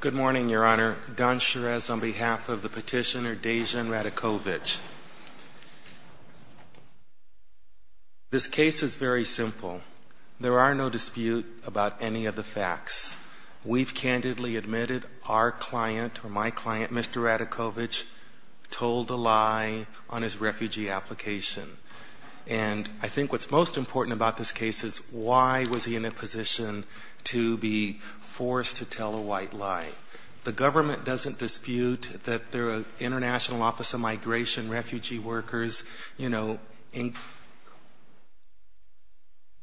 Good morning, Your Honor. Don Cherez on behalf of the petitioner Dejan Radojkovic. This case is very simple. There are no dispute about any of the facts. We've candidly admitted our client, or my client, Mr. Radojkovic, told a lie on his refugee application. And I think what's most important about this case is why was he in a position to be forced to tell a white lie. The government doesn't dispute that the International Office of Migration refugee workers, you know,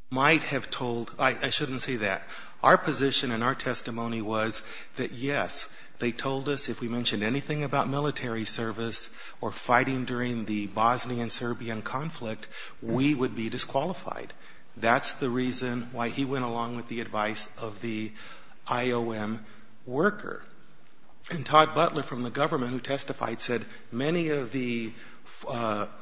might have told, I shouldn't say that. Our position and our testimony was that, yes, they told us if we mentioned anything about military service or fighting during the Bosnian-Serbian conflict, we would be disqualified. That's the reason why he went along with the advice of the IOM worker. And Todd Butler from the government who testified said many of the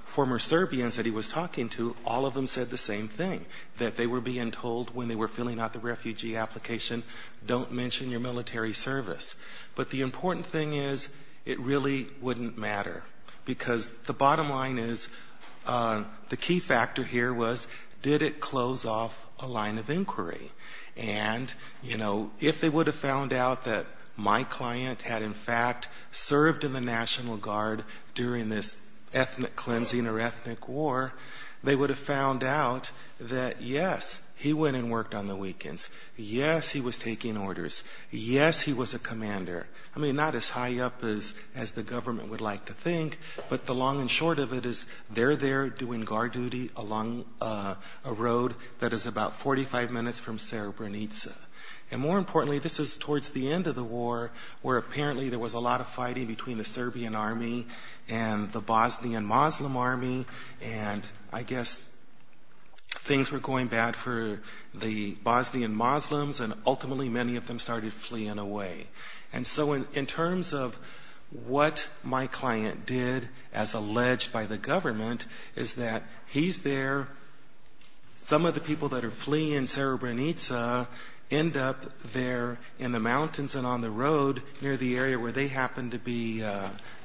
former Serbians that he was talking to, all of them said the same thing, that they were being told when they were filling out the refugee application, don't mention your military service. But the important thing is it really wouldn't matter. Because the bottom line is, the key factor here was, did it close off a line of inquiry? And, you know, if they would have found out that my client had in fact served in the National Guard during this ethnic cleansing or ethnic war, they would have found out that, yes, he went and worked on the weekends. Yes, he was taking orders. Yes, he was a commander. I mean, not as high up as the government would like to think, but the long and short of it is, they're there doing guard duty along a road that is about 45 minutes from Srebrenica. And more importantly, this is towards the end of the war, where apparently there was a lot of fighting between the Serbian army and the Bosnian Muslim army, and I guess things were going bad for the Bosnian Muslims, and ultimately many of them started fleeing away. And so in terms of what my client did, as alleged by the government, is that he's there, some of the people that are fleeing Srebrenica end up there in the mountains and on the road near the area where they happen to be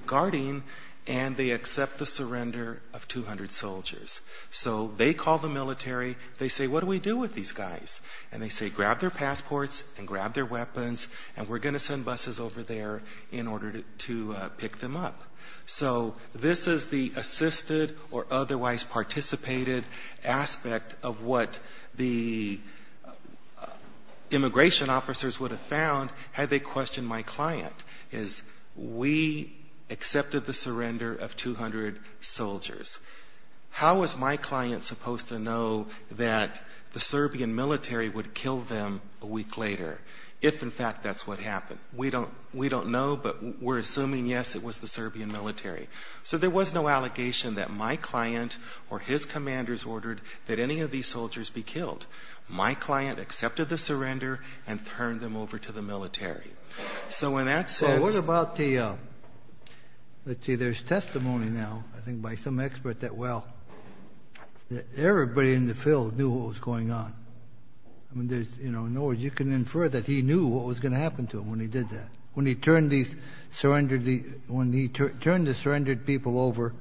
guarding, and they accept the surrender of 200 soldiers. So they call the military, they say, what do we do with these guys? And they say, grab their passports and grab their weapons and we're going to send buses over there in order to pick them up. So this is the assisted or otherwise participated aspect of what the immigration officers would have found had they questioned my client. So he accepted the surrender of 200 soldiers. How was my client supposed to know that the Serbian military would kill them a week later, if in fact that's what happened? We don't know, but we're assuming, yes, it was the Serbian military. So there was no allegation that my client or his commanders ordered that any of these soldiers be killed. My client accepted the surrender and turned them over to the military. So in that sense... There's testimony now, I think by some expert, that well, everybody in the field knew what was going on. In other words, you can infer that he knew what was going to happen to him when he did that. When he turned the surrendered people over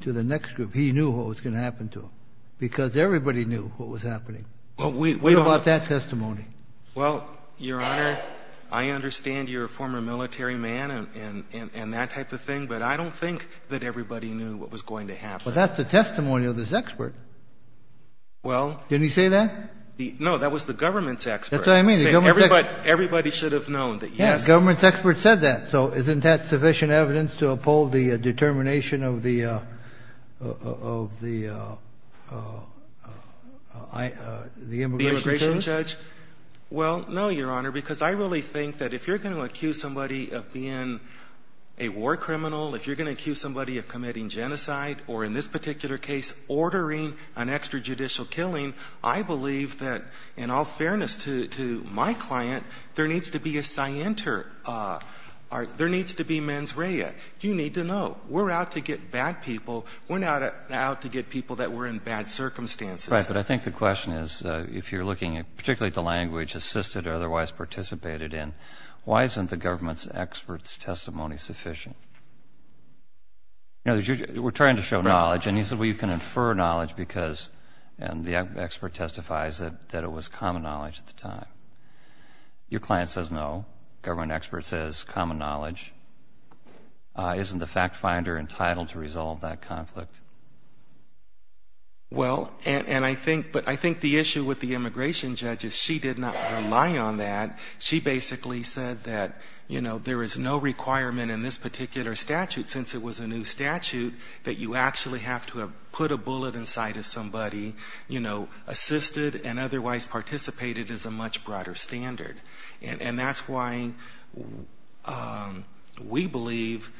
to the next group, he knew what was going to happen. Well, Your Honor, I understand you're a former military man and that type of thing, but I don't think that everybody knew what was going to happen. Well, that's the testimony of this expert. Didn't he say that? No, that was the government's expert. Everybody should have known that, yes... I don't know, Your Honor, because I really think that if you're going to accuse somebody of being a war criminal, if you're going to accuse somebody of committing genocide, or in this particular case, ordering an extrajudicial killing, I believe that, in all fairness to my client, there needs to be a scienter. There needs to be mens rea. You need to know. We're out to get bad people. We're not out to get people that were in bad circumstances. Right, but I think the question is, if you're looking particularly at the language assisted or otherwise participated in, why isn't the government's expert's testimony sufficient? We're trying to show knowledge, and he said, well, you can infer knowledge because, and the expert testifies that it was common knowledge at the time. Your client says no. The government expert says common knowledge. Isn't the fact finder entitled to resolve that conflict? Well, and I think, but I think the issue with the immigration judge is she did not rely on that. She basically said that, you know, there is no requirement in this particular statute, since it was a new statute, that you actually have to have put a bullet inside of somebody, you know, assisted and otherwise participated is a much broader standard. And that's why we believe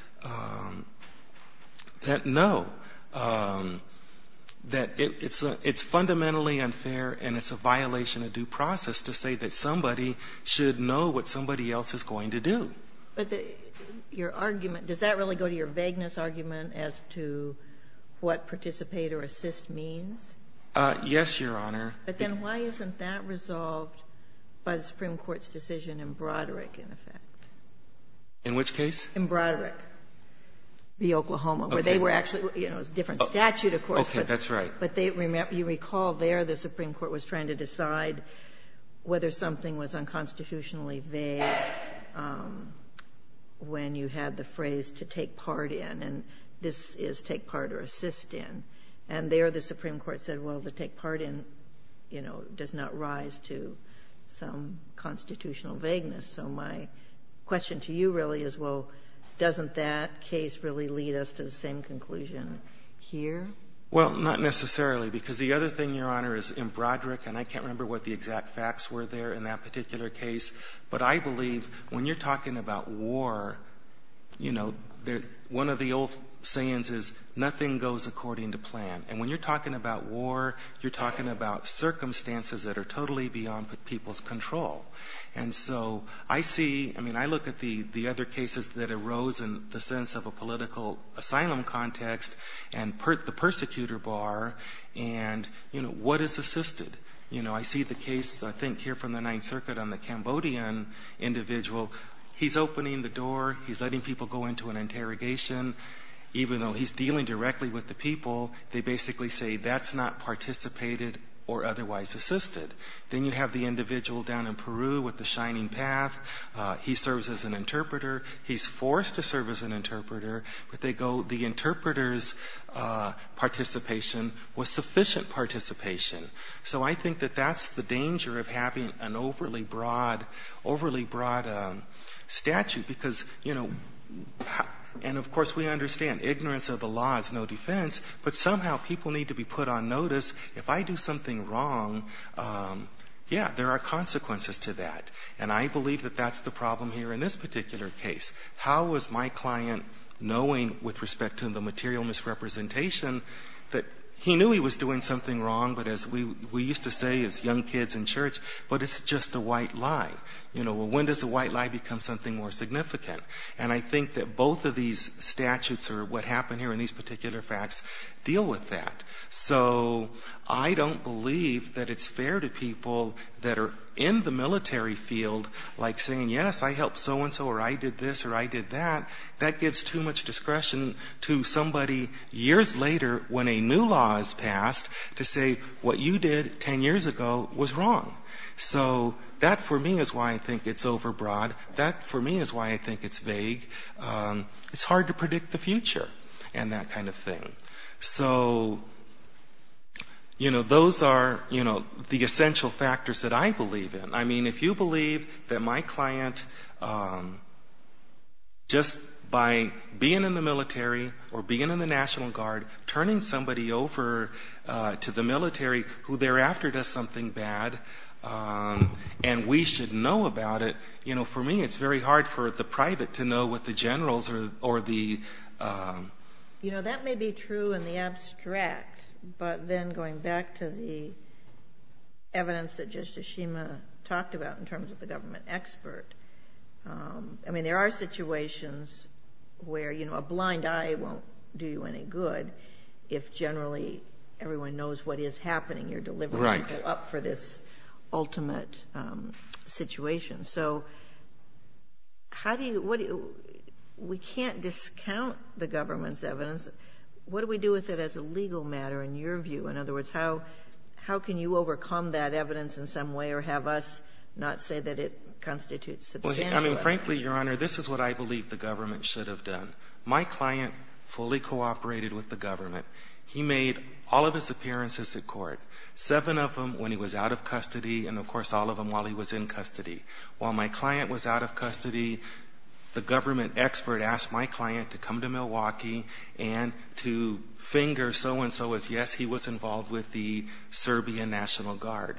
that, no, there is no requirement that it's fundamentally unfair, and it's a violation of due process to say that somebody should know what somebody else is going to do. But your argument, does that really go to your vagueness argument as to what participate or assist means? Yes, Your Honor. But then why isn't that resolved by the Supreme Court's decision in Broderick, in effect? In which case? In Broderick v. Oklahoma, where they were actually, you know, it's a different statute, of course. Okay. That's right. But you recall there the Supreme Court was trying to decide whether something was unconstitutionally vague when you had the phrase to take part in, and this is take part or assist in. And there the Supreme Court's question to you really is, well, doesn't that case really lead us to the same conclusion here? Well, not necessarily, because the other thing, Your Honor, is in Broderick, and I can't remember what the exact facts were there in that particular case, but I believe when you're talking about war, you know, one of the old sayings is nothing goes according to plan. And when you're talking about war, you're talking about circumstances that are totally beyond people's control. And so I see, I mean, I look at the other cases that arose in the sense of a political asylum context and the persecutor bar, and, you know, what is assisted? You know, I see the case, I think, here from the Ninth Circuit on the Cambodian individual. He's opening the door. He's letting people go into an interrogation. Even though he's dealing directly with the people, they basically say that's not participated or otherwise assisted. Then you have the individual down in Peru with the Shining Path. He serves as an interpreter. He's forced to serve as an interpreter, but they go, the interpreter's participation was sufficient participation. So I think that that's the danger of having an overly broad statute, because, you know, and of course we understand ignorance of the law is no defense, but somehow people need to be put on notice. If I do something wrong, yeah, there are consequences to that. And I believe that that's the problem here in this particular case. How is my client knowing with respect to the material misrepresentation that he knew he was doing something wrong, but as we used to say as young kids in church, but it's just a white lie. You know, when does a white lie become something more significant? And I think that both of these statutes or what happened here in these particular facts deal with that. So I don't believe that it's fair to people that are in the military field like saying, yes, I helped so-and-so or I did this or I did that. That gives too much discretion to somebody years later when a new law is passed to say what you did ten years ago was wrong. So that for me is why I think it's overbroad. That for me is why I think it's vague. It's hard to predict the future and that kind of thing. So, you know, those are, you know, the essential factors that I believe in. I mean, if you believe that my client just by being in the military or being in the National Guard, turning somebody over to the military who thereafter does something bad, and we should know that about it, you know, for me it's very hard for the private to know what the generals or the... You know, that may be true in the abstract, but then going back to the evidence that Justice Shima talked about in terms of the government expert, I mean, there are situations where, you know, a blind eye won't do you any good if generally everyone knows what is happening. You're up for this ultimate situation. So how do you — what do you — we can't discount the government's evidence. What do we do with it as a legal matter in your view? In other words, how can you overcome that evidence in some way or have us not say that it constitutes substantial evidence? Well, I mean, frankly, Your Honor, this is what I believe the government should have done. My client fully cooperated with the government. He made all of his appearances at court, seven of them when he was out of custody, and of course all of them while he was in custody. While my client was out of custody, the government expert asked my client to come to Milwaukee and to finger so-and-so as yes, he was involved with the Serbian National Guard.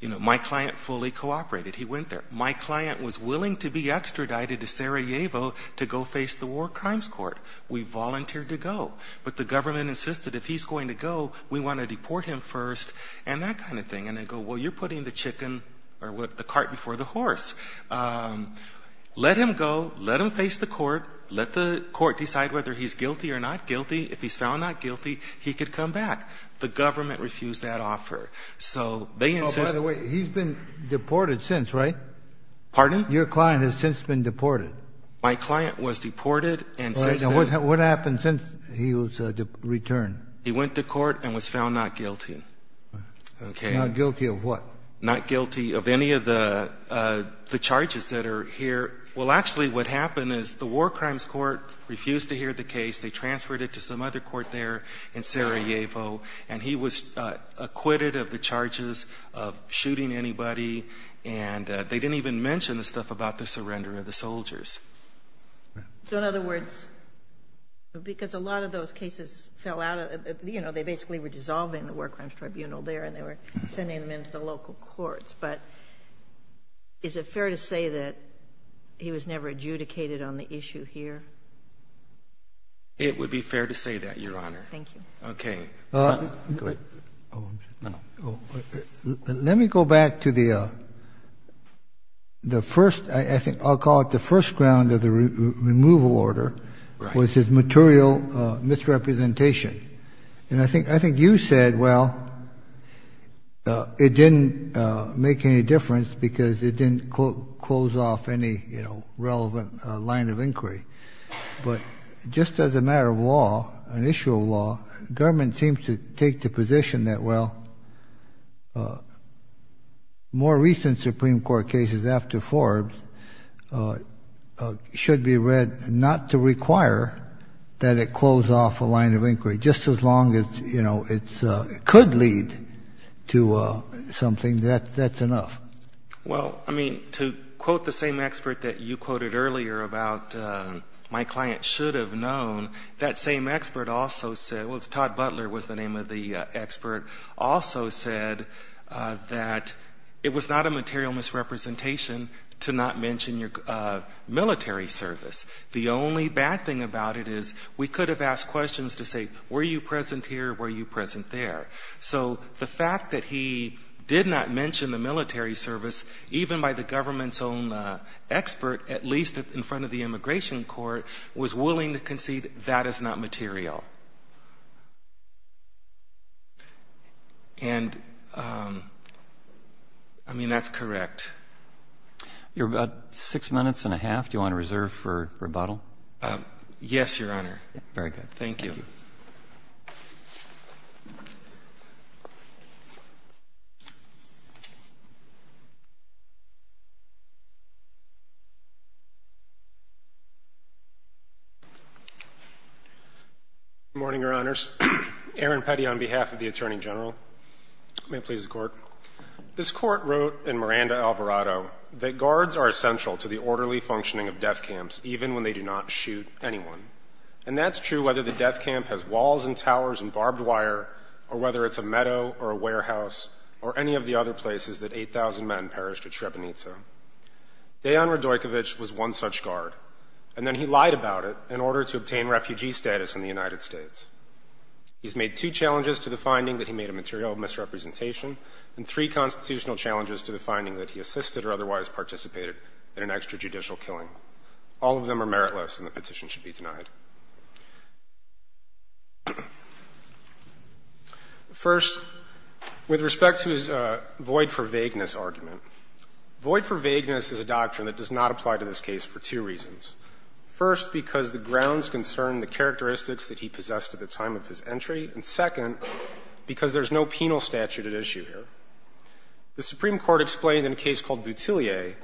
You know, my client fully cooperated. He went there. My client was willing to be extradited to Sarajevo to go face the War Crimes Court. We volunteered to go. But the government insisted if he's going to go, we want to deport him first and that kind of thing. And they go, well, you're putting the chicken — or the cart before the horse. Let him go. Let him face the court. Let the court decide whether he's guilty or not guilty. If he's found not guilty, he could come back. The government refused that offer. So they insisted — Oh, by the way, he's been deported since, right? Pardon? Your client has since been deported. My client was deported and since then — What happened since he was returned? He went to court and was found not guilty. Not guilty of what? Not guilty of any of the charges that are here. Well, actually, what happened is the War Crimes Court refused to hear the case. They transferred it to some other court there in Sarajevo. And he was acquitted of the charges of shooting anybody. And they didn't even mention the stuff about the surrender of the soldiers. So, in other words, because a lot of those cases fell out of — you know, they basically were dissolving the War Crimes Tribunal there and they were sending them into the local courts. But is it fair to say that he was never adjudicated on the issue here? It would be fair to say that, Your Honor. Thank you. Okay. Go ahead. Oh, I'm sorry. No, no. Let me go back to the first — I think I'll call it the first ground of the removal order was his material misrepresentation. And I think you said, well, it didn't make any difference because it didn't close off any, you know, relevant line of inquiry. But just as a matter of law, an issue of law, government seems to take the position that, well, more recent Supreme Court cases after Forbes should be read not to require that it close off a line of inquiry. Just as long as, you know, it could lead to something, that's enough. Well, I mean, to quote the same expert that you quoted earlier about my client should have known, that same expert also said — well, Todd Butler was the name of the expert — also said that it was not a material misrepresentation to not mention your military service. The only bad thing about it is we could have asked questions to say, were you present here or were you present there? So the fact that he did not mention the military service, even by the government's own expert, at least in front of the immigration court, was willing to concede that is not material. And, I mean, that's correct. You have about six minutes and a half. Do you want to reserve for rebuttal? Yes, Your Honor. Very good. Thank you. Good morning, Your Honors. Aaron Petty on behalf of the Attorney General. May it please the Court. This Court wrote in Miranda-Alvarado that guards are essential to the orderly functioning of death camps, even when they do not shoot anyone. And that's true whether the death camp has walls and towers and barbed wire or whether it's a meadow or a warehouse or any of the other places that 8,000 men perished at Srebrenica. Dejan Radojkovic was one such guard, and then he lied about it in order to obtain refugee status in the United States. He's made two challenges to the finding that he made a material misrepresentation and three constitutional challenges to the finding that he assisted or otherwise participated in an extrajudicial killing. All of them are meritless, and the petition should be denied. First, with respect to his void for vagueness argument, void for vagueness is a doctrine that does not apply to this case for two reasons. First, because the grounds concern the characteristics that he possessed at the time of his entry, and, second, because there's no penal statute at issue here. The Supreme Court explained in a case called Butelier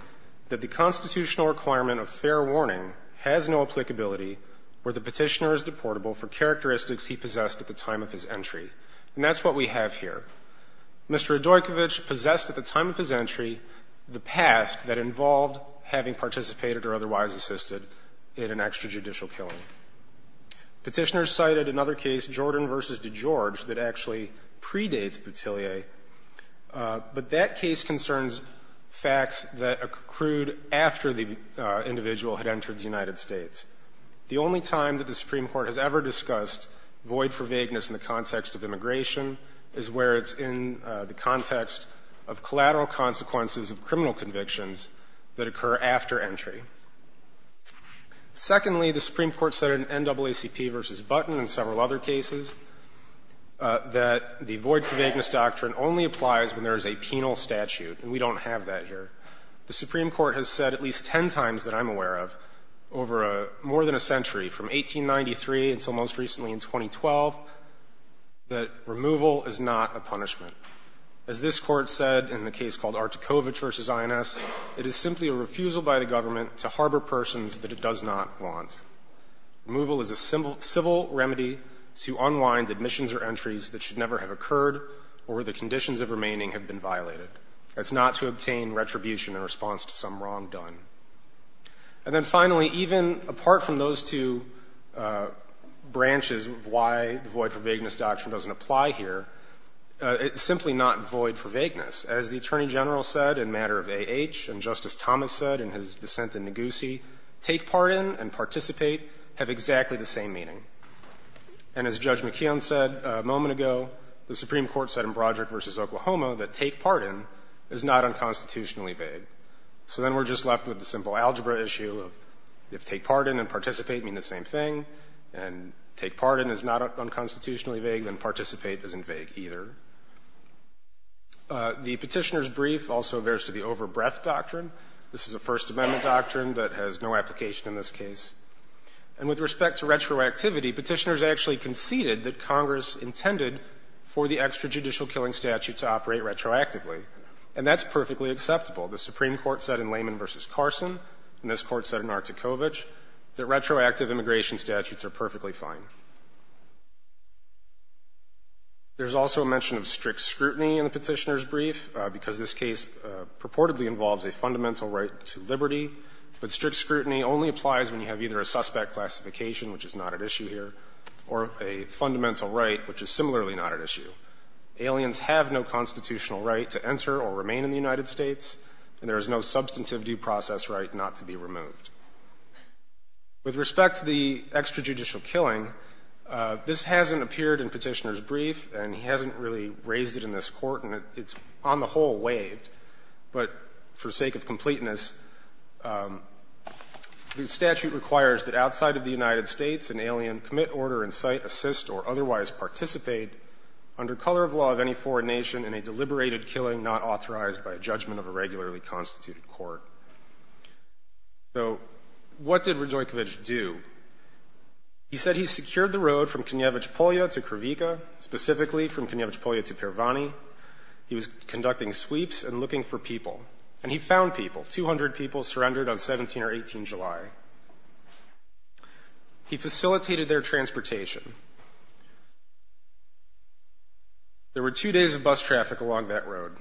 that the constitutional requirement of fair warning has no applicability where the Petitioner is deportable for characteristics he possessed at the time of his entry. And that's what we have here. Mr. Radojkovic possessed at the time of his entry the past that involved having participated or otherwise assisted in an extrajudicial killing. Petitioners cited another case, Jordan v. DeGeorge, that actually predates Butelier, but that case concerns facts that accrued after the individual had entered the United States. The only time that the Supreme Court has ever discussed void for vagueness in the context of immigration is where it's in the context of collateral consequences of criminal convictions that occur after entry. Secondly, the Supreme Court said in NAACP v. Button and several other cases that the void for vagueness doctrine only applies when there is a penal statute, and we don't have that here. The Supreme Court has said at least ten times that I'm aware of over more than a century, from 1893 until most recently in 2012, that removal is not a punishment. As this Court said in the case called Artikovic v. INS, it is simply a refusal by the government to harbor persons that it does not want. Removal is a civil remedy to unwind admissions or entries that should never have occurred or where the conditions of remaining have been violated. That's not to obtain retribution in response to some wrong done. And then finally, even apart from those two branches of why the void for vagueness doctrine doesn't apply here, it's simply not void for vagueness. As the Attorney General said in matter of A.H. and Justice Thomas said in his dissent in Negussie, take pardon and participate have exactly the same meaning. And as Judge McKeon said a moment ago, the Supreme Court said in Broderick v. Oklahoma that take pardon is not unconstitutionally vague. So then we're just left with the simple algebra issue of if take pardon and participate mean the same thing, and take pardon is not unconstitutionally vague, then participate isn't vague either. The Petitioner's brief also refers to the over-breath doctrine. This is a First Amendment doctrine that has no application in this case. And with respect to retroactivity, Petitioners actually conceded that Congress intended for the extrajudicial killing statute to operate retroactively, and that's perfectly acceptable. The Supreme Court said in Layman v. Carson, and this Court said in Artikovich, that retroactive immigration statutes are perfectly fine. There's also a mention of strict scrutiny in the Petitioner's brief, because this case purportedly involves a fundamental right to liberty. But strict scrutiny only applies when you have either a suspect classification, which is not at issue here, or a fundamental right, which is similarly not at issue. Aliens have no constitutional right to enter or remain in the United States, and there is no substantive due process right not to be removed. With respect to the extrajudicial killing, this hasn't appeared in Petitioner's brief, and he hasn't really raised it in this Court, and it's on the whole waived. But for sake of completeness, the statute requires that outside of the United States an alien commit, order, incite, assist, or otherwise participate under color of law of any foreign nation in a deliberated killing not authorized by a judgment of a regularly constituted court. So what did Radojkovich do? He said he secured the road from Konevich Polya to Krivika, specifically from Konevich Polya to Pervani. He was conducting sweeps and looking for people, and he found people. Two hundred people surrendered on 17 or 18 July. He facilitated their transportation. There were two days of bus traffic along that road,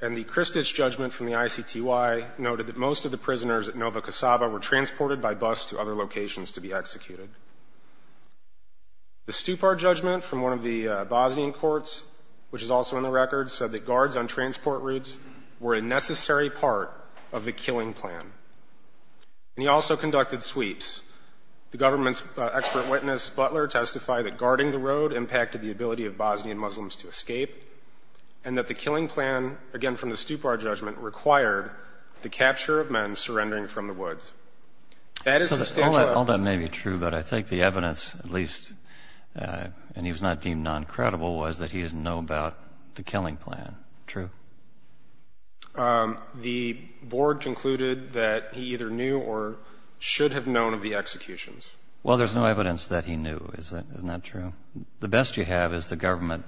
and the Kristich judgment from the ICTY noted that most of the prisoners at Novo Cassava were transported by bus to other locations to be executed. The Stupar judgment from one of the Bosnian courts, which is also in the record, said that guards on transport routes were a necessary part of the killing plan. And he also conducted sweeps. The government's expert witness, Butler, testified that guarding the road impacted the ability of Bosnian Muslims to escape and that the killing plan, again from the Stupar judgment, required the capture of men surrendering from the woods. All that may be true, but I think the evidence, at least, and he was not deemed noncredible, was that he didn't know about the killing plan. True? The board concluded that he either knew or should have known of the executions. Well, there's no evidence that he knew. Isn't that true? The best you have is the government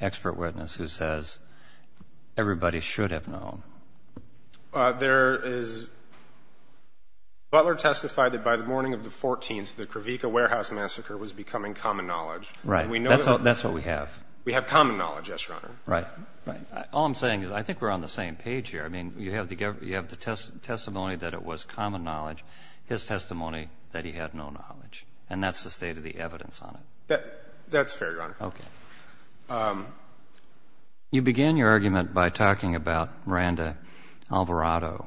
expert witness who says everybody should have known. There is... Butler testified that by the morning of the 14th, the Kravica warehouse massacre was becoming common knowledge. Right. That's what we have. We have common knowledge, yes, Your Honor. Right. All I'm saying is I think we're on the same page here. I mean, you have the testimony that it was common knowledge, his testimony that he had no knowledge, and that's the state of the evidence on it. That's fair, Your Honor. Okay. You began your argument by talking about Miranda Alvarado,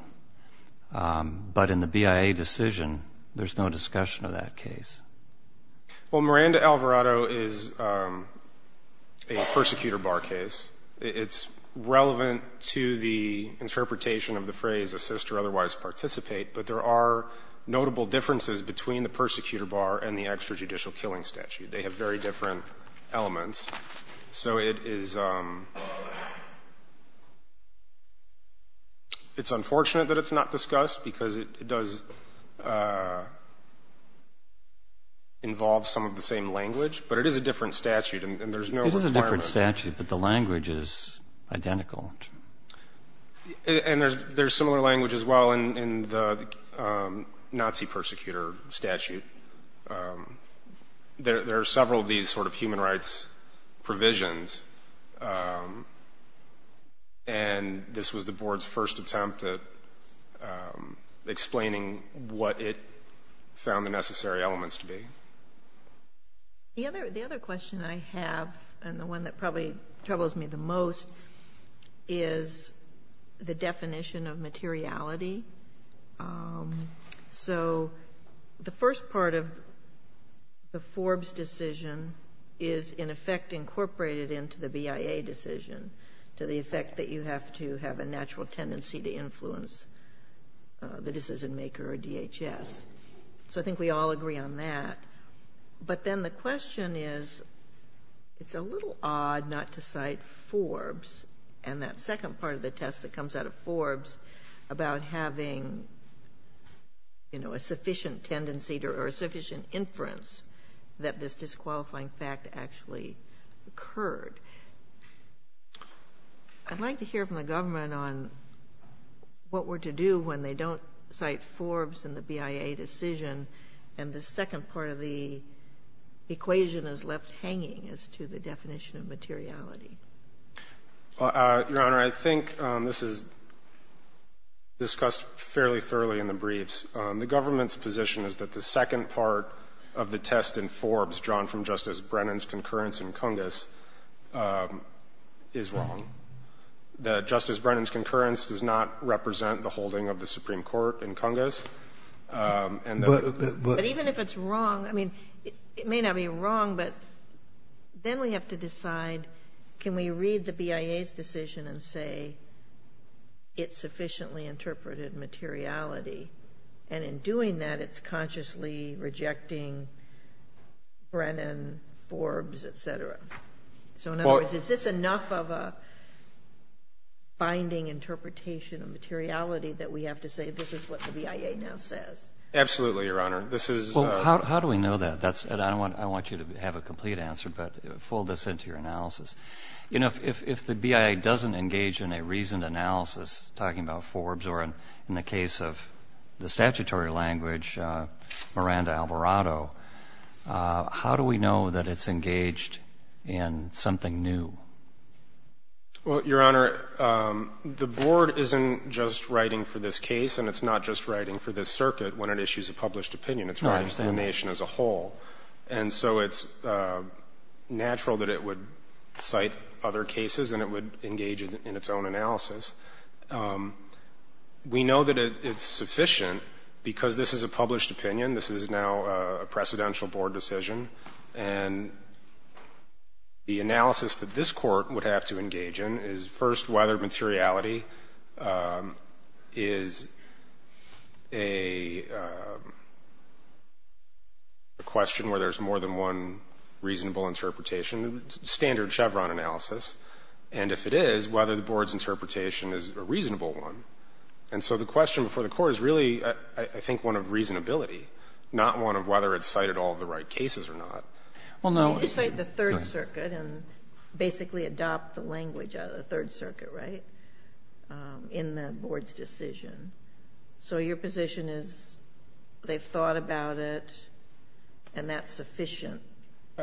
but in the BIA decision, there's no discussion of that case. Well, Miranda Alvarado is a persecutor bar case. It's relevant to the interpretation of the phrase assist or otherwise participate, but there are notable differences between the persecutor bar and the extrajudicial killing statute. They have very different elements. So it is unfortunate that it's not discussed because it does involve some of the same language, but it is a different statute and there's no requirement. It is a different statute, but the language is identical. And there's similar language as well in the Nazi persecutor statute. There are several of these sort of human rights provisions, and this was the board's first attempt at explaining what it found the necessary elements to be. The other question I have, and the one that probably troubles me the most, is the part of the Forbes decision is in effect incorporated into the BIA decision, to the effect that you have to have a natural tendency to influence the decision maker or DHS. So I think we all agree on that. But then the question is, it's a little odd not to cite Forbes and that second part of the test that comes out of Forbes about having a sufficient tendency to influence the decision. I'm not sure that there's sufficient inference that this disqualifying fact actually occurred. I'd like to hear from the government on what we're to do when they don't cite Forbes and the BIA decision, and the second part of the equation is left out. The second part of the test in Forbes, drawn from Justice Brennan's concurrence in Cungus, is wrong. Justice Brennan's concurrence does not represent the holding of the Supreme Court in Cungus. But even if it's wrong, it may not be wrong, but then we have to decide, can we read the BIA's decision and say it sufficiently interpreted materiality? And in doing that, it's consciously rejecting Brennan, Forbes, etc. So in other words, is this enough of a binding interpretation of materiality that we have to say this is what the BIA now says? Absolutely, Your Honor. How do we know that? I want you to have a complete answer, but fold this into your analysis. If the BIA doesn't engage in a reasoned analysis talking about Forbes or in the case of the statutory language, Miranda Alvarado, how do we know that it's engaged in something new? Well, Your Honor, the Board isn't just writing for this case and it's not just writing for this circuit when it issues a published opinion. It's writing for the nation as a whole. And so it's natural that it would cite other cases and it would engage in its own analysis. We know that it's sufficient because this is a published opinion. This is now a precedential Board decision. And the analysis that this Court would have to engage in is, first, whether materiality is a question where there's more than one reasonable interpretation. It's a standard Chevron analysis. And if it is, whether the Board's interpretation is a reasonable one. And so the question before the Court is really, I think, one of reasonability, not one of whether it cited all the right cases or not. Well, no. You cite the Third Circuit and basically adopt the language of the Third Circuit, right, in the Board's decision. So your position is they've thought about it and that's sufficient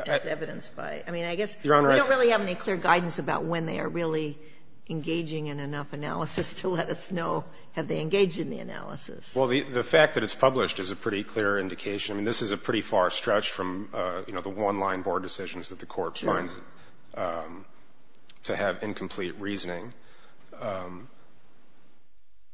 as evidenced by – I mean, I guess we don't really have any clear guidance about when they are really engaging in enough analysis to let us know have they engaged in the analysis. Well, the fact that it's published is a pretty clear indication. I mean, this is a pretty far stretch from, you know, the one-line Board decisions that the Court finds to have incomplete reasoning.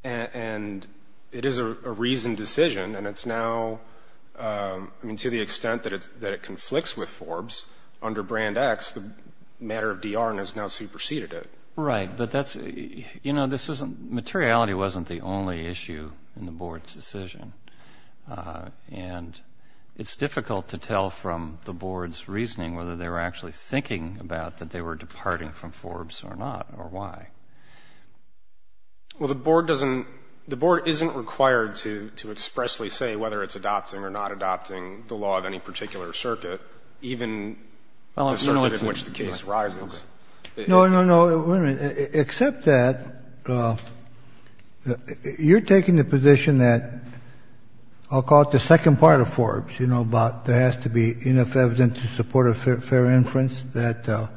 And it is a reasoned decision and it's now – I mean, to the extent that it conflicts with Forbes under Brand X, the matter of DRN has now superseded it. Right. But that's – you know, this isn't – materiality wasn't the only issue in the Board's decision. And it's difficult to tell from the Board's reasoning whether they were actually thinking about that they were departing from Forbes or not or why. Well, the Board doesn't – the Board isn't required to expressly say whether it's adopting or not adopting the law of any particular circuit, even the circuit in which the case rises. No, no, no. Wait a minute. Except that you're taking the position that – I'll call it the second part of Forbes, you know, about there has to be enough evidence to support a fair inference that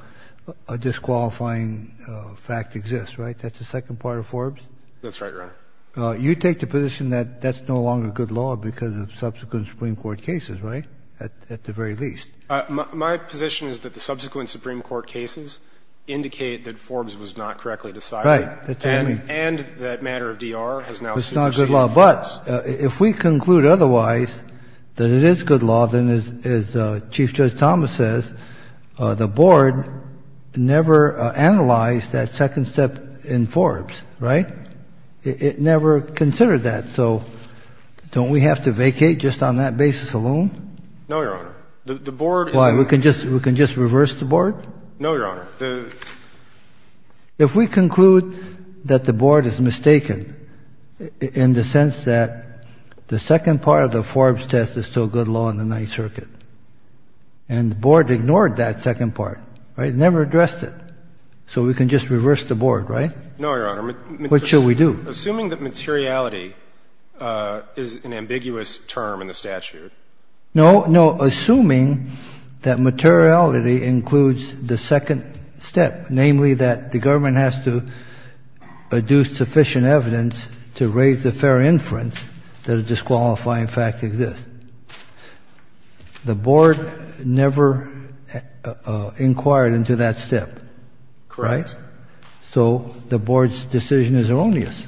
a disqualifying fact exists, right? That's the second part of Forbes? That's right, Your Honor. You take the position that that's no longer good law because of subsequent Supreme Court cases, right, at the very least? My position is that the subsequent Supreme Court cases indicate that Forbes was not correctly decided. Right. That's what I mean. And that matter of DR has now superseded it. It's not a good law. But if we conclude otherwise, that it is good law, then, as Chief Judge Thomas says, the Board never analyzed that second step in Forbes, right? It never considered that. So don't we have to vacate just on that basis alone? No, Your Honor. The Board is – Why? We can just reverse the Board? No, Your Honor. If we conclude that the Board is mistaken in the sense that the second part of the Forbes test is still good law in the Ninth Circuit, and the Board ignored that second part, right, never addressed it, so we can just reverse the Board, right? No, Your Honor. What shall we do? Assuming that materiality is an ambiguous term in the statute. No, no. Assuming that materiality includes the second step, namely that the government has to adduce sufficient evidence to raise a fair inference that a disqualifying fact exists. The Board never inquired into that step, right? Correct. So the Board's decision is erroneous.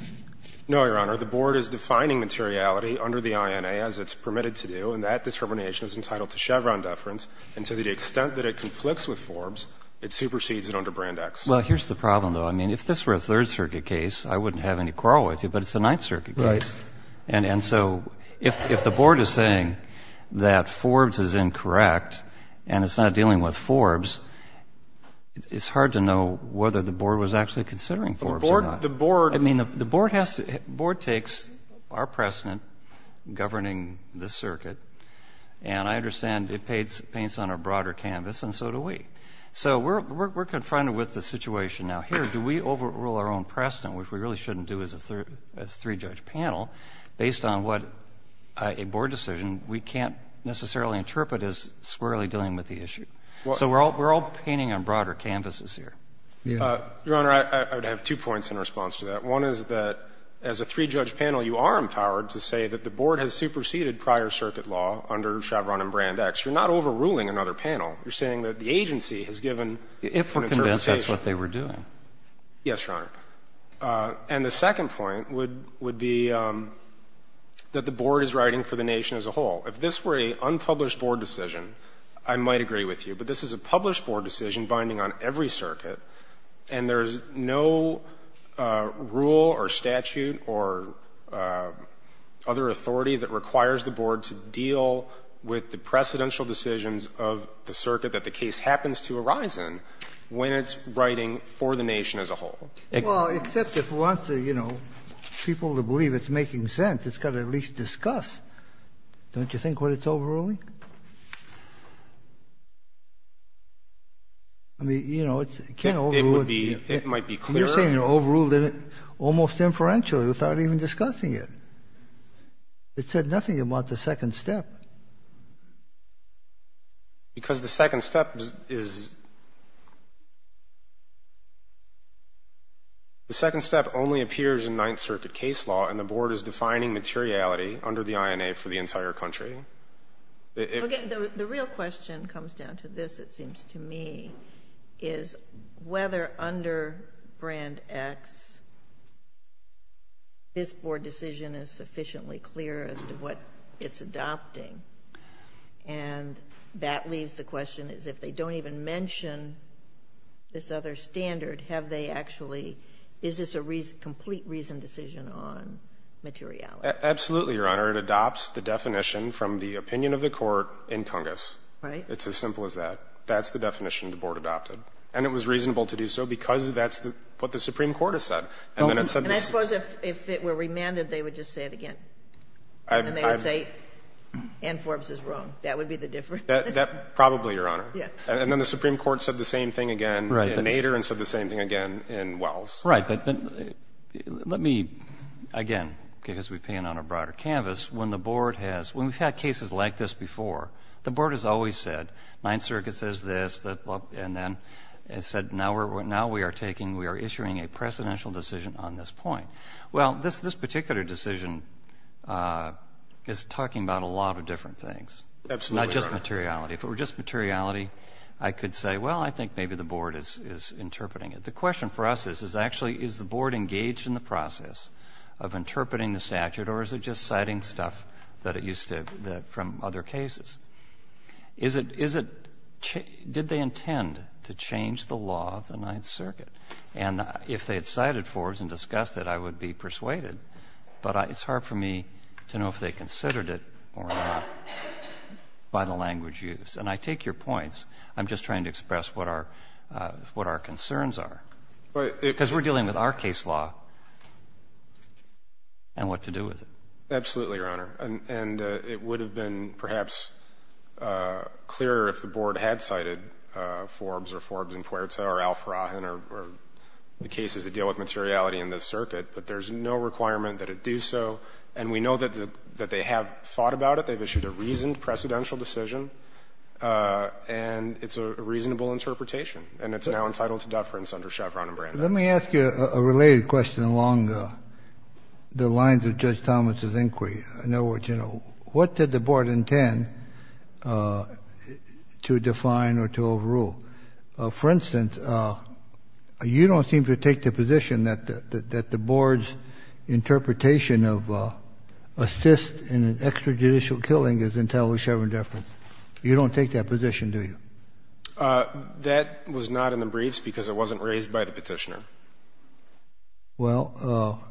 No, Your Honor. The Board is defining materiality under the INA as it's permitted to do, and that determination is entitled to Chevron deference. And to the extent that it conflicts with Forbes, it supersedes it under Brand X. Well, here's the problem, though. I mean, if this were a Third Circuit case, I wouldn't have any quarrel with you, but it's a Ninth Circuit case. Right. And so if the Board is saying that Forbes is incorrect and it's not dealing with it, I don't know whether the Board was actually considering Forbes or not. The Board has to – the Board takes our precedent governing the circuit, and I understand it paints on a broader canvas, and so do we. So we're confronted with the situation now. Here, do we overrule our own precedent, which we really shouldn't do as a three-judge panel, based on what a Board decision we can't necessarily interpret as squarely dealing with the issue. So we're all painting on broader canvases here. Your Honor, I would have two points in response to that. One is that as a three-judge panel, you are empowered to say that the Board has superseded prior circuit law under Chevron and Brand X. You're not overruling another panel. You're saying that the agency has given an interpretation. If we're convinced, that's what they were doing. Yes, Your Honor. And the second point would be that the Board is writing for the nation as a whole. If this were an unpublished Board decision, I might agree with you, but this is a published Board decision binding on every circuit, and there's no rule or statute or other authority that requires the Board to deal with the precedential decisions of the circuit that the case happens to arise in when it's writing for the nation as a whole. Well, except if we want the, you know, people to believe it's making sense, it's got to at least discuss, don't you think, what it's overruling? I mean, you know, it can't overrule it. It might be clearer. You're saying you're overruling it almost inferentially without even discussing it. It said nothing about the second step. Because the second step is, the second step only appears in Ninth Circuit case law, and the Board is defining materiality under the INA for the entire country. Okay. The real question comes down to this, it seems to me, is whether under Brand X this Board decision is sufficiently clear as to what it's adopting. And that leaves the question as if they don't even mention this other standard, have they actually, is this a complete reasoned decision on materiality? Absolutely, Your Honor. It adopts the definition from the opinion of the Court in Congress. Right. It's as simple as that. That's the definition the Board adopted. And it was reasonable to do so because that's what the Supreme Court has said. And I suppose if it were remanded, they would just say it again. And they would say, Ann Forbes is wrong. That would be the difference. Probably, Your Honor. And then the Supreme Court said the same thing again in Nader and said the same thing again in Wells. Right. Let me, again, because we paint on a broader canvas, when the Board has, when we've had cases like this before, the Board has always said Ninth Circuit says this and then it said now we are taking, we are issuing a precedential decision on this point. Well, this particular decision is talking about a lot of different things. Absolutely, Your Honor. Not just materiality. If it were just materiality, I could say, well, I think maybe the Board is interpreting it. But the question for us is actually is the Board engaged in the process of interpreting the statute or is it just citing stuff that it used to, from other cases? Is it, did they intend to change the law of the Ninth Circuit? And if they had cited Forbes and discussed it, I would be persuaded. But it's hard for me to know if they considered it or not by the language used. And I take your points. I'm just trying to express what our, what our concerns are. Because we're dealing with our case law and what to do with it. Absolutely, Your Honor. And it would have been perhaps clearer if the Board had cited Forbes or Forbes and Puerta or Al-Farrahan or the cases that deal with materiality in this circuit. But there's no requirement that it do so. And we know that they have thought about it. They've issued a reasoned precedential decision. And it's a reasonable interpretation. And it's now entitled to deference under Chevron and Brandeis. Let me ask you a related question along the lines of Judge Thomas's inquiry. In other words, you know, what did the Board intend to define or to overrule? For instance, you don't seem to take the position that the Board's interpretation of assist in an extrajudicial killing is entirely Chevron deference. You don't take that position, do you? That was not in the briefs because it wasn't raised by the Petitioner. Well,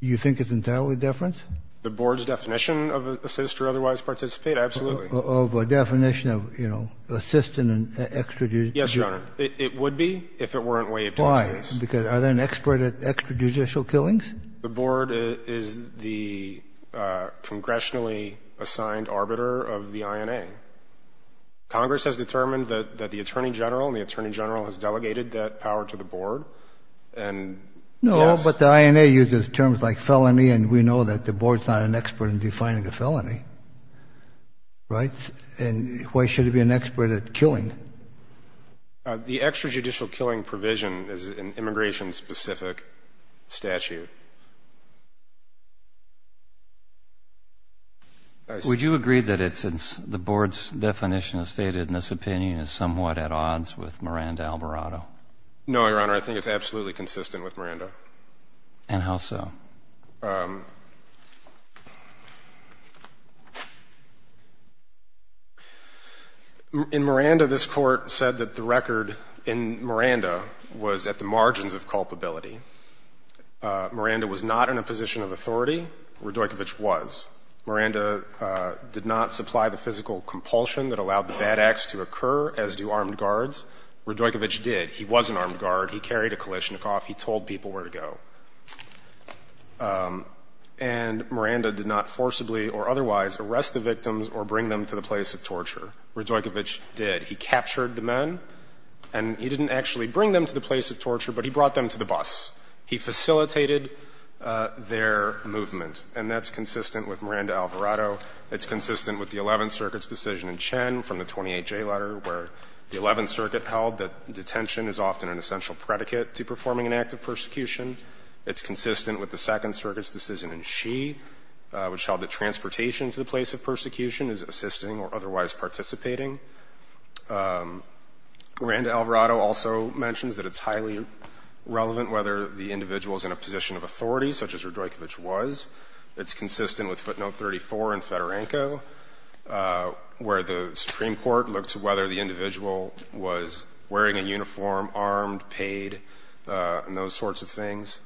you think it's entirely deference? The Board's definition of assist or otherwise participate? Absolutely. Of a definition of, you know, assist in an extrajudicial. Yes, Your Honor. It would be if it weren't waived in this case. Why? Because are they an expert at extrajudicial killings? The Board is the congressionally assigned arbiter of the INA. Congress has determined that the Attorney General and the Attorney General has delegated that power to the Board, and yes. No, but the INA uses terms like felony, and we know that the Board's not an expert in defining a felony, right? And why should it be an expert at killing? The extrajudicial killing provision is an immigration-specific statute. Would you agree that the Board's definition as stated in this opinion is somewhat at odds with Miranda-Alberato? No, Your Honor. I think it's absolutely consistent with Miranda. And how so? In Miranda, this Court said that the record in Miranda was at the margins of culpability. Miranda was not in a position of authority. Radojkovic was. Miranda did not supply the physical compulsion that allowed the bad acts to occur, as do armed guards. Radojkovic did. He was an armed guard. He carried a Kalashnikov. He told people where to go. And Miranda did not forcibly or otherwise arrest the victims or bring them to the place of torture. Radojkovic did. He captured the men, and he didn't actually bring them to the place of torture, but he brought them to the bus. He facilitated their movement, and that's consistent with Miranda-Alberato. It's consistent with the Eleventh Circuit's decision in Chen from the 28J letter, where the Eleventh Circuit held that detention is often an essential predicate to performing an act of persecution. It's consistent with the Second Circuit's decision in Xi, which held that transportation to the place of persecution is assisting or otherwise participating. Miranda-Alberato also mentions that it's highly relevant whether the individual is in a position of authority, such as Radojkovic was. It's consistent with footnote 34 in Fedorenko, where the Supreme Court looked to whether the individual was wearing a uniform, armed, paid, and those sorts of things.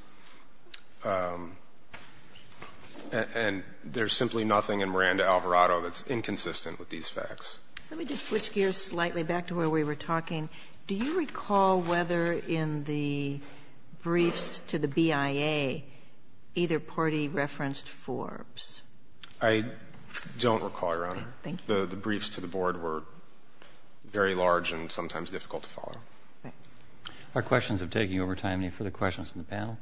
And there's simply nothing in Miranda-Alberato that's inconsistent with these facts. Let me just switch gears slightly back to where we were talking. Do you recall whether in the briefs to the BIA either party referenced Forbes? I don't recall, Your Honor. Thank you. The briefs to the Board were very large and sometimes difficult to follow. All right. Our questions have taken over time. Any further questions from the panel?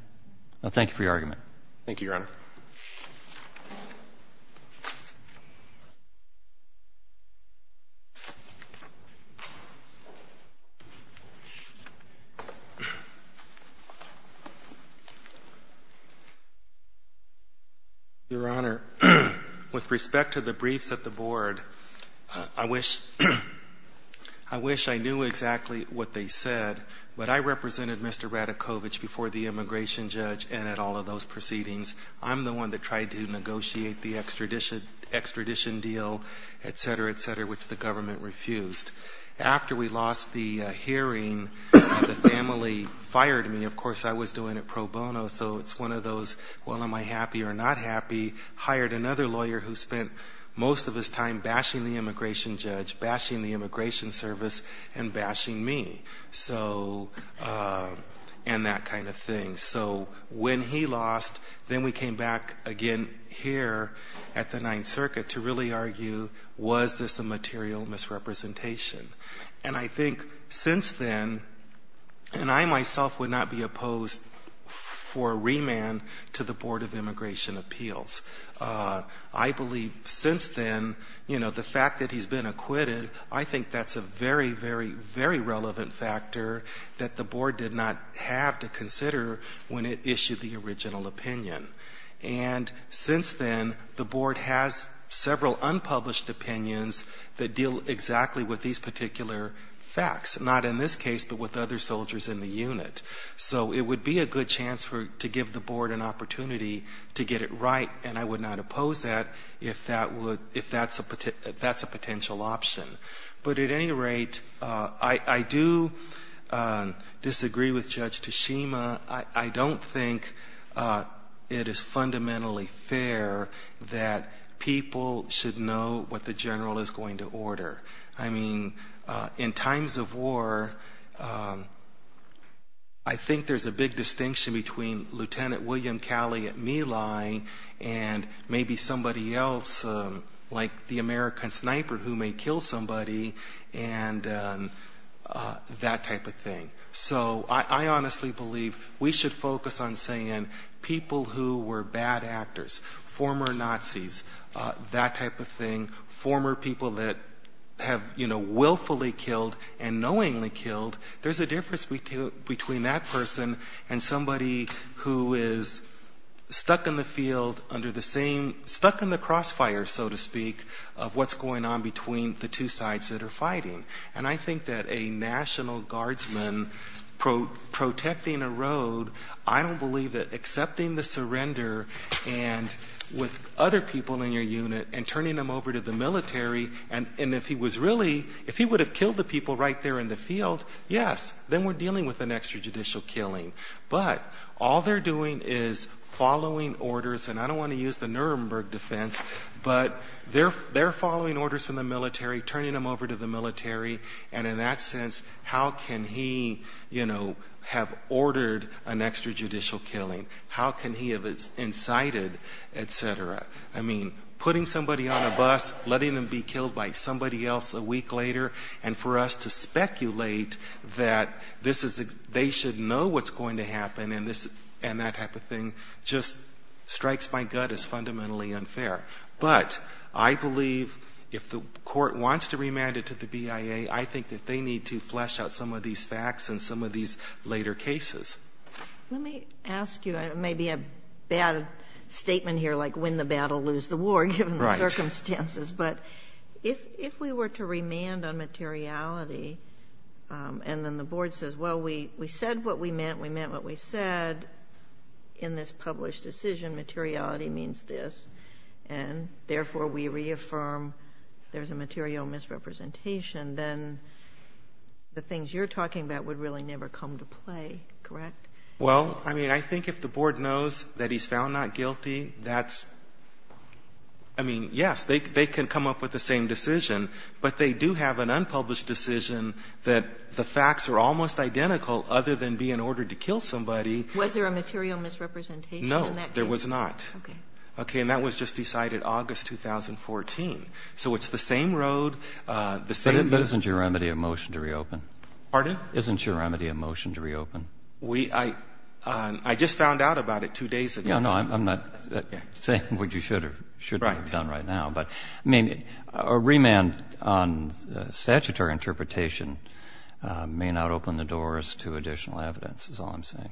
Thank you for your argument. Thank you, Your Honor. Your Honor, with respect to the briefs at the Board, I wish I knew exactly what they said, but I represented Mr. Radojkovic before the immigration judge and at all of those proceedings, I'm the one that tried to negotiate the extradition deal, et cetera, et cetera, which the government refused. After we lost the hearing, the family fired me. Of course, I was doing it pro bono, so it's one of those, well, am I happy or not happy, hired another lawyer who spent most of his time bashing the immigration judge, bashing the immigration service, and bashing me. So, and that kind of thing. So, when he lost, then we came back again here at the Ninth Circuit to really argue, was this a material misrepresentation? And I think since then, and I myself would not be opposed for a remand to the Board of Immigration Appeals. I believe since then, you know, the fact that he's been acquitted, I think that's a very, very, very relevant factor that the Board did not have to consider when it issued the original opinion. And since then, the Board has several unpublished opinions that deal exactly with these particular facts, not in this case, but with other soldiers in the unit. So it would be a good chance to give the Board an opportunity to get it right, and I would not oppose that if that's a potential option. But at any rate, I do disagree with Judge Tashima. I don't think it is fundamentally fair that people should know what the general is going to order. I mean, in times of war, I think there's a big distinction between Lieutenant William Calley at My Lai and maybe somebody else like the American sniper who may kill somebody and that type of thing. So I honestly believe we should focus on saying people who were bad actors, former Nazis, that type of thing, former people that have, you know, willfully killed and knowingly killed, there's a person who is stuck in the field under the same, stuck in the crossfire, so to speak, of what's going on between the two sides that are fighting. And I think that a national guardsman protecting a road, I don't believe that accepting the surrender and with other people in your unit and turning them over to the military, and if he was really, if he would have killed the people right there in the field, yes, then we're dealing with an extrajudicial killing. But all they're doing is following orders, and I don't want to use the Nuremberg defense, but they're following orders from the military, turning them over to the military, and in that sense, how can he, you know, have ordered an extrajudicial killing? How can he have incited, et cetera? I mean, putting somebody on a bus, letting them be killed by somebody else a week later, and for us to speculate that this is, they should know what's going to happen and that type of thing just strikes my gut as fundamentally unfair. But I believe if the court wants to remand it to the BIA, I think that they need to flesh out some of these facts in some of these later cases. Let me ask you, maybe a bad statement here, like when the battle lose the war, given the circumstances. But if we were to remand on materiality, and then the board says, well, we said what we meant, we meant what we said, in this published decision, materiality means this, and therefore we reaffirm there's a material misrepresentation, then the things you're talking about would really never come to play, correct? Well, I mean, I think if the board knows that he's found not guilty, that's, I mean, yes, they could have come up with the same decision, but they do have an unpublished decision that the facts are almost identical, other than be in order to kill somebody. Was there a material misrepresentation in that case? No, there was not. Okay. And that was just decided August 2014. So it's the same road, the same road. But isn't your remedy a motion to reopen? Pardon? Isn't your remedy a motion to reopen? I just found out about it two days ago. No, I'm not saying what you should have done right now, but, I mean, a remand on statutory interpretation may not open the doors to additional evidence, is all I'm saying. Thank you.